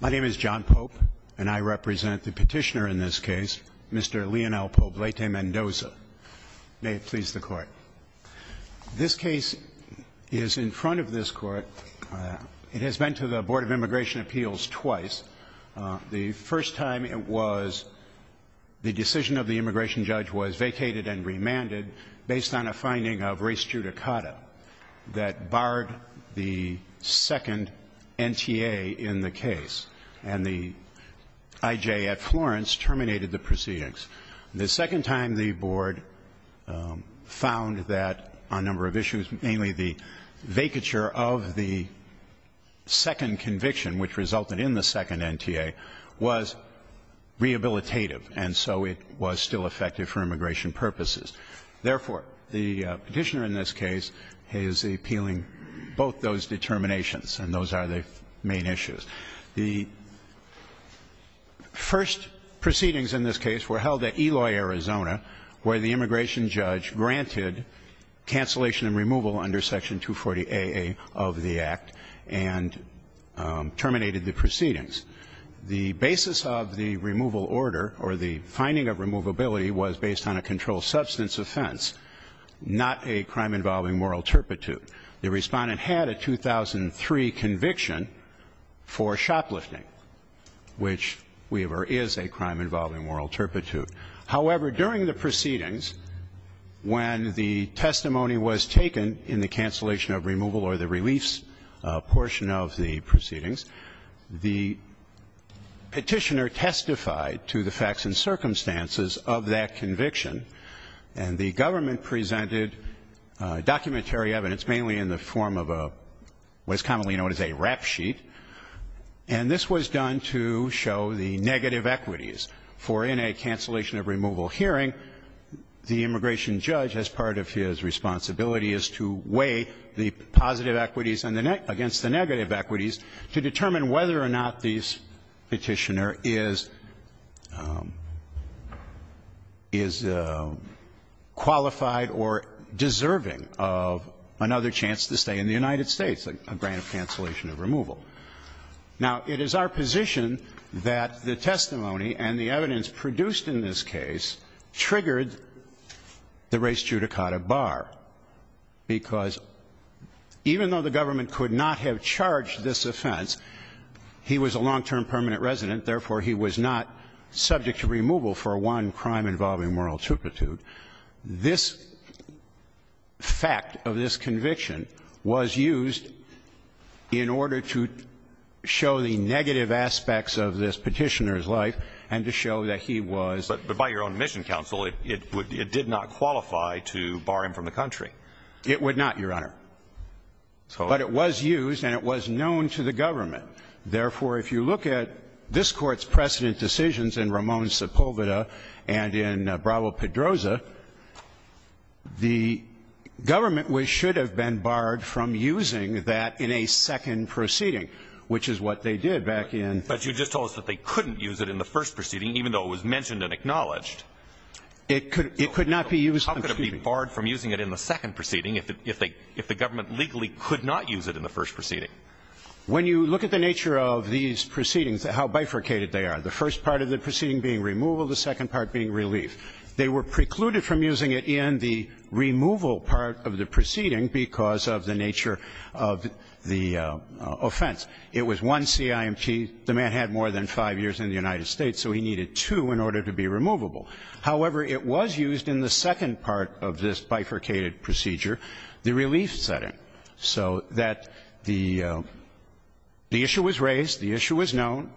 My name is John Pope and I represent the petitioner in this case, Mr. Leonel Poblete Mendoza. May it please the Court. This case is in front of this Court. It has been to the Board of Immigration Appeals twice. The first time it was the decision of the immigration judge was vacated and remanded based on a finding of res judicata that barred the second NTA in the case. And the IJ at Florence terminated the proceedings. The second time the Board found that on a number of issues, mainly the vacature of the second conviction, which resulted in the second NTA, was rehabilitative, and so it was still effective for immigration purposes. Therefore, the petitioner in this case is appealing both those determinations and those are the main issues. The first proceedings in this case were held at Eloy, Arizona, where the immigration judge granted cancellation and removal under Section 240AA of the Act and terminated the proceedings. The basis of the removal order or the finding of removability was based on a controlled substance offense, not a crime involving moral turpitude. The Respondent had a 2003 conviction for shoplifting, which we have or is a crime involving moral turpitude. However, during the proceedings, when the testimony was taken in the cancellation of removal or the reliefs portion of the proceedings, the petitioner testified to the facts and circumstances of that conviction, and the government presented documentary evidence, mainly in the form of what is commonly known as a rap sheet, and this was done to show the negative equities. For in a cancellation of removal hearing, the immigration judge, as part of his responsibility, is to weigh the positive equities against the negative equities to determine whether or not this petitioner is qualified or deserving of another chance to stay in the United States, a grant of cancellation of removal. Now, it is our position that the testimony and the evidence produced in this case triggered the res judicata bar, because even though the government could not have charged this offense, he was a long-term permanent resident, therefore, he was not subject to removal for one crime involving moral turpitude, this fact of this conviction was used in order to show the negative aspects of this petitioner's life and to show that he was. But by your own admission, counsel, it did not qualify to bar him from the country. It would not, Your Honor. But it was used and it was known to the government. Therefore, if you look at this Court's precedent decisions in Ramon Sepulveda and in Bravo-Pedroza, the government should have been barred from using that in a second proceeding, which is what they did back in. But you just told us that they couldn't use it in the first proceeding, even though it was mentioned and acknowledged. It could not be used. How could it be barred from using it in the second proceeding if the government legally could not use it in the first proceeding? When you look at the nature of these proceedings, how bifurcated they are, the first part of the proceeding being removal, the second part being relief, they were precluded from using it in the removal part of the proceeding because of the nature of the offense. It was one CIMP. The man had more than five years in the United States, so he needed two in order to be removable. However, it was used in the second part of this bifurcated procedure, the relief setting, so that the issue was raised, the issue was known,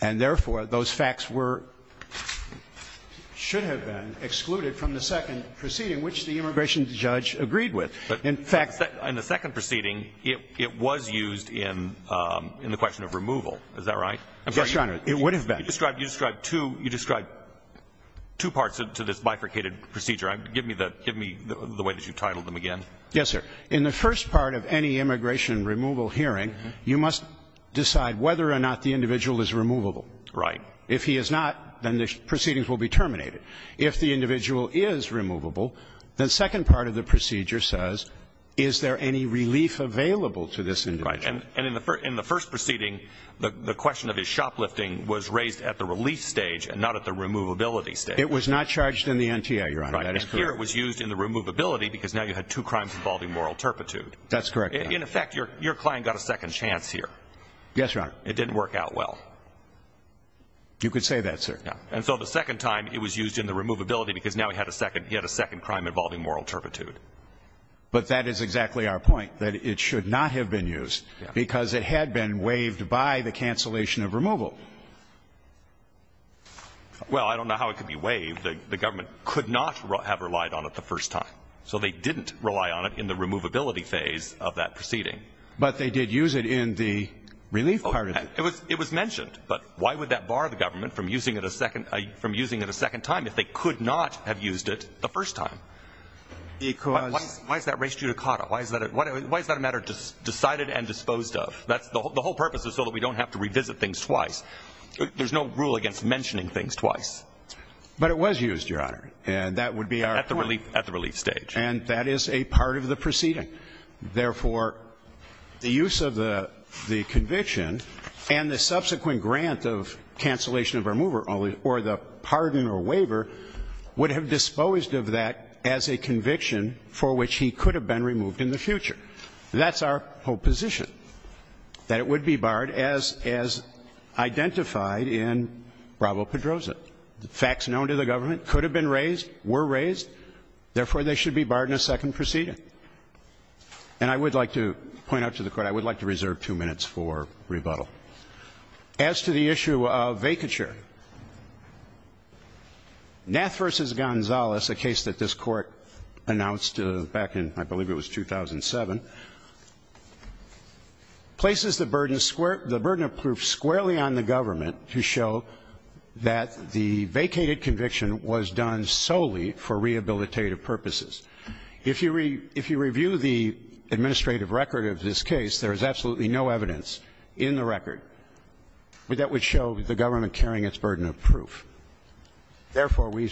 and therefore, those facts were – should have been excluded from the second proceeding, which the immigration judge agreed with. In fact – In the second proceeding, it was used in the question of removal. Is that right? Yes, Your Honor. It would have been. You described two parts to this bifurcated procedure. Give me the way that you titled them again. Yes, sir. In the first part of any immigration removal hearing, you must decide whether or not the individual is removable. Right. If he is not, then the proceedings will be terminated. If the individual is removable, the second part of the procedure says, is there any relief available to this individual? Right. And in the first proceeding, the question of his shoplifting was raised at the relief stage and not at the removability stage. It was not charged in the NTA, Your Honor. Right. And here it was used in the removability because now you had two crimes involving moral turpitude. That's correct. In effect, your client got a second chance here. Yes, Your Honor. It didn't work out well. You could say that, sir. And so the second time it was used in the removability because now he had a second crime involving moral turpitude. But that is exactly our point, that it should not have been used because it had been waived by the cancellation of removal. Well, I don't know how it could be waived. The government could not have relied on it the first time. So they didn't rely on it in the removability phase of that proceeding. But they did use it in the relief part of it. It was mentioned. But why would that bar the government from using it a second time if they could not have used it the first time? Because why is that res judicata? Why is that a matter decided and disposed of? The whole purpose is so that we don't have to revisit things twice. There's no rule against mentioning things twice. But it was used, Your Honor. And that would be our point. At the relief stage. And that is a part of the proceeding. Therefore, the use of the conviction and the subsequent grant of cancellation of removal or the pardon or waiver would have disposed of that as a conviction for which he could have been removed in the future. That's our whole position. That it would be barred as identified in Bravo-Pedroza. The facts known to the government could have been raised, were raised. Therefore, they should be barred in a second proceeding. And I would like to point out to the Court, I would like to reserve two minutes for rebuttal. As to the issue of vacature. Nath v. Gonzales, a case that this Court announced back in, I believe it was 2007, places the burden of proof squarely on the government to show that the vacated conviction was done solely for rehabilitative purposes. If you review the administrative record of this case, there is absolutely no evidence in the record that would show the government carrying its burden of proof. Therefore, we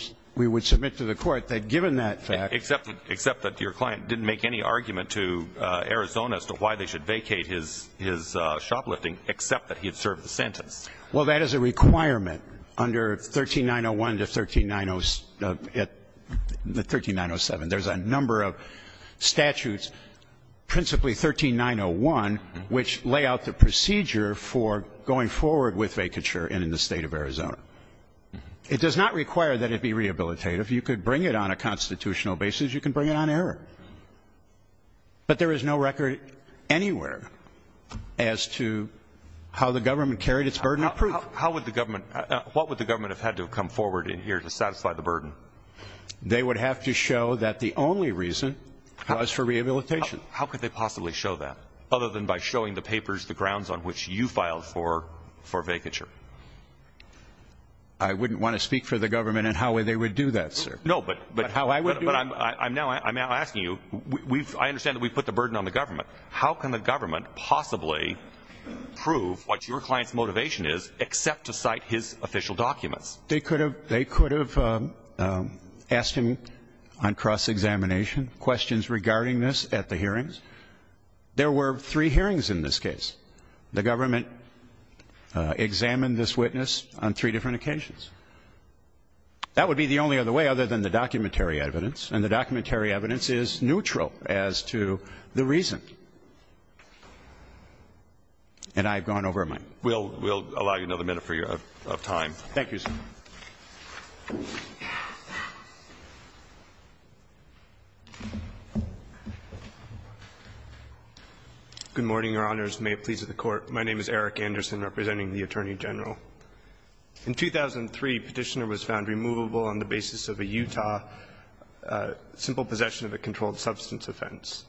would submit to the Court that given that fact. Except that your client didn't make any argument to Arizona as to why they should vacate his shoplifting, except that he had served the sentence. Well, that is a requirement under 13901 to 13907. There's a number of statutes, principally 13901, which lay out the procedure for going forward with vacature in the State of Arizona. It does not require that it be rehabilitative. You could bring it on a constitutional basis. You can bring it on error. But there is no record anywhere as to how the government carried its burden of proof. How would the government, what would the government have had to have come forward in here to satisfy the burden? They would have to show that the only reason was for rehabilitation. How could they possibly show that? Other than by showing the papers the grounds on which you filed for vacature? I wouldn't want to speak for the government in how they would do that, sir. No, but I'm now asking you. I understand that we put the burden on the government. How can the government possibly prove what your client's motivation is except to cite his official documents? They could have asked him on cross-examination questions regarding this at the hearings. There were three hearings in this case. The government examined this witness on three different occasions. That would be the only other way other than the documentary evidence, and the documentary evidence is neutral as to the reason. And I've gone over my mind. We'll allow you another minute of time. Thank you, sir. Good morning, Your Honors. May it please the Court. My name is Eric Anderson, representing the Attorney General. In 2003, Petitioner was found removable on the basis of a Utah simple possession of a controlled substance offense.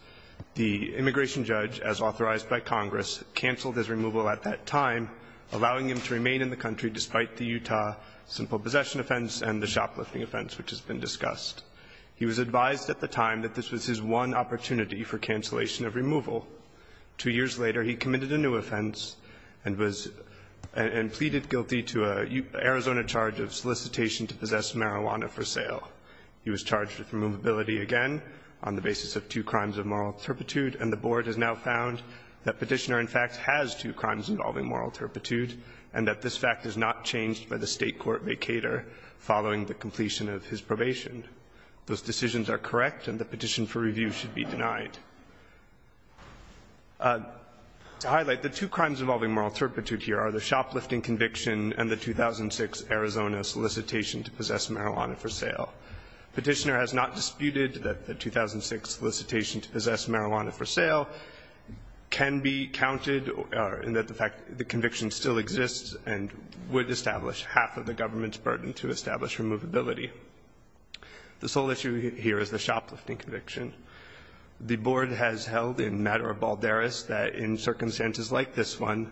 The immigration judge, as authorized by Congress, canceled his removal at that time, allowing him to remain in the country despite the Utah simple possession offense and the shoplifting offense, which has been discussed. He was advised at the time that this was his one opportunity for cancellation of removal. Two years later, he committed a new offense and pleaded guilty to an Arizona charge of solicitation to possess marijuana for sale. He was charged with removability again on the basis of two crimes of moral turpitude, and the Board has now found that Petitioner in fact has two crimes involving moral turpitude and that this fact is not changed by the State court vacator following the completion of his probation. Those decisions are correct, and the petition for review should be denied. To highlight, the two crimes involving moral turpitude here are the shoplifting conviction and the 2006 Arizona solicitation to possess marijuana for sale. Petitioner has not disputed that the 2006 solicitation to possess marijuana for sale can be counted in that the fact the conviction still exists and would establish half of the government's burden to establish removability. The sole issue here is the shoplifting conviction. The Board has held in matter of balderas that in circumstances like this one,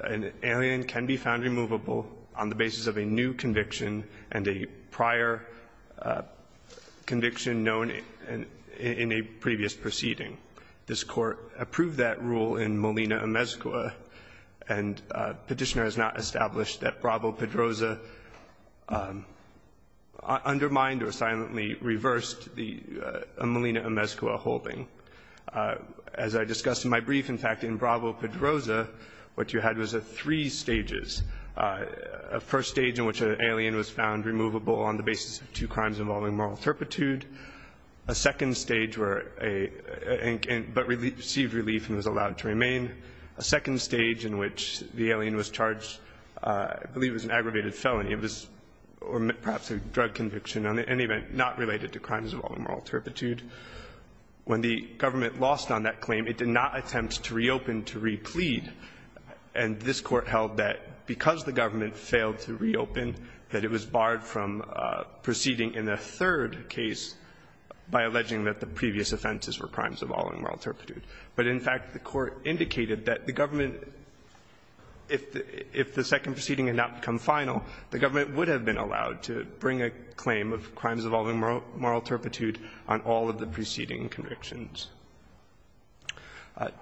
an alien can be found removable on the basis of a new conviction and a prior conviction known in a previous proceeding. This Court approved that rule in Molina-Amezcua, and Petitioner has not established that Bravo-Pedroza undermined or silently reversed the Molina-Amezcua holding. As I discussed in my brief, in fact, in Bravo-Pedroza, what you had was three stages. A first stage in which an alien was found removable on the basis of two crimes involving moral turpitude. A second stage where a — but received relief and was allowed to remain. A second stage in which the alien was charged, I believe it was an aggravated felony, or perhaps a drug conviction, in any event, not related to crimes involving moral turpitude. When the government lost on that claim, it did not attempt to reopen to re-plead, and this Court held that because the government failed to reopen, that it was barred from proceeding in a third case by alleging that the previous offenses were crimes involving moral turpitude. But, in fact, the Court indicated that the government, if the second proceeding had not become final, the government would have been allowed to bring a claim of crimes involving moral turpitude on all of the preceding convictions.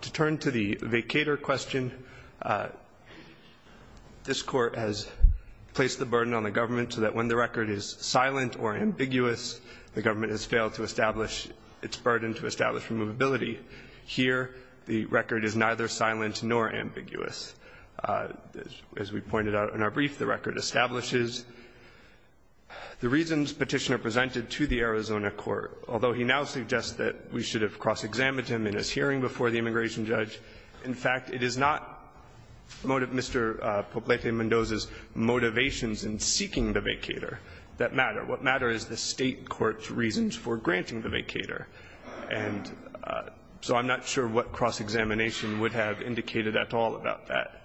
To turn to the vacator question, this Court has placed the burden on the government so that when the record is silent or ambiguous, the government has failed to establish its burden to establish removability. Here, the record is neither silent nor ambiguous. As we pointed out in our brief, the record establishes the reasons Petitioner presented to the Arizona court. Although he now suggests that we should have cross-examined him in his hearing before the immigration judge, in fact, it is not Mr. Poblete-Mendoza's motivations in seeking the vacator that matter. What matters is the State court's reasons for granting the vacator. And so I'm not sure what cross-examination would have indicated at all about that.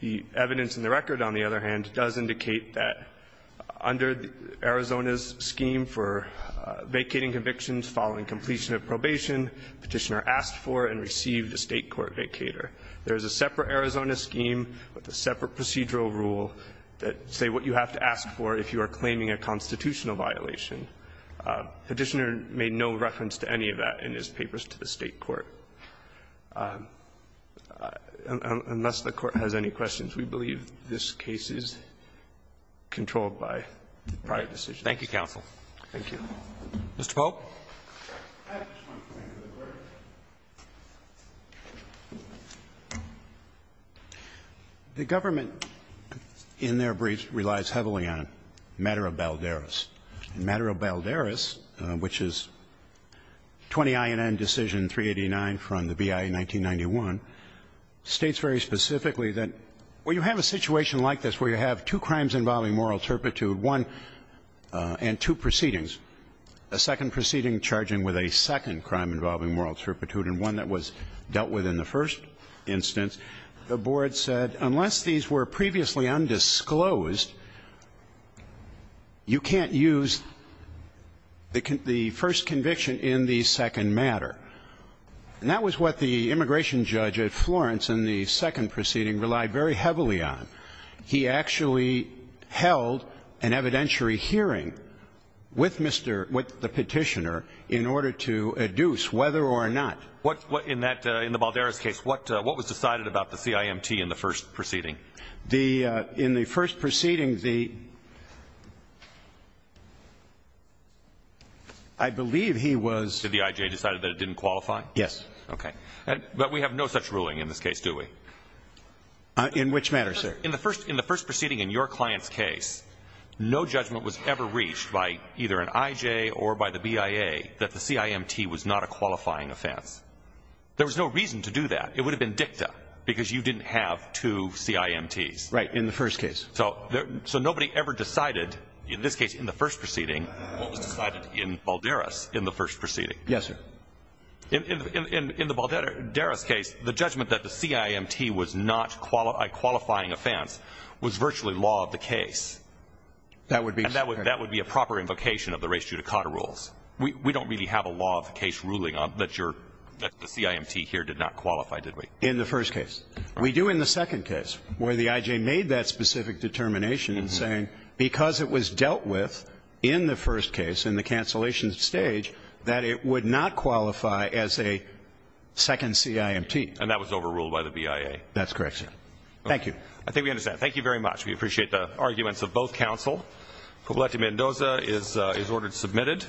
The evidence in the record, on the other hand, does indicate that under Arizona's scheme for vacating convictions following completion of probation, Petitioner asked for and received a State court vacator. There is a separate Arizona scheme with a separate procedural rule that say what you have to ask for if you are claiming a constitutional violation. Petitioner made no reference to any of that in his papers to the State court. Unless the Court has any questions, we believe this case is controlled by the prior decision. Thank you, counsel. Roberts. Thank you. Mr. Pope. I just want to come in for the break. The government in their briefs relies heavily on matter of balderas. Matter of balderas, which is 20INN decision 389 from the BIA 1991, states very specifically that when you have a situation like this where you have two crimes involving moral turpitude, one and two proceedings, a second proceeding charging with a second crime involving moral turpitude and one that was dealt with in the first instance, the Board said unless these were previously undisclosed, you can't use the first conviction in the second matter. And that was what the immigration judge at Florence in the second proceeding relied very heavily on. He actually held an evidentiary hearing with Mr. — with the Petitioner in order to adduce whether or not. What — what in that — in the balderas case, what was decided about the CIMT in the first proceeding? The — in the first proceeding, the — I believe he was — Did the IJ decide that it didn't qualify? Yes. Okay. In which matter, sir? In the first proceeding in your client's case, no judgment was ever reached by either an IJ or by the BIA that the CIMT was not a qualifying offense. There was no reason to do that. It would have been dicta because you didn't have two CIMTs. Right. In the first case. So nobody ever decided, in this case in the first proceeding, what was decided in balderas in the first proceeding. Yes, sir. In the balderas case, the judgment that the CIMT was not a qualifying offense was virtually law of the case. That would be — And that would be a proper invocation of the res judicata rules. We don't really have a law of the case ruling on that your — that the CIMT here did not qualify, did we? In the first case. We do in the second case, where the IJ made that specific determination in saying, because it was dealt with in the first case, in the cancellation stage, that it would not qualify as a second CIMT. And that was overruled by the BIA. That's correct, sir. Thank you. Okay. I think we understand. Thank you very much. We appreciate the arguments of both counsel. Pobleta-Mendoza is ordered submitted.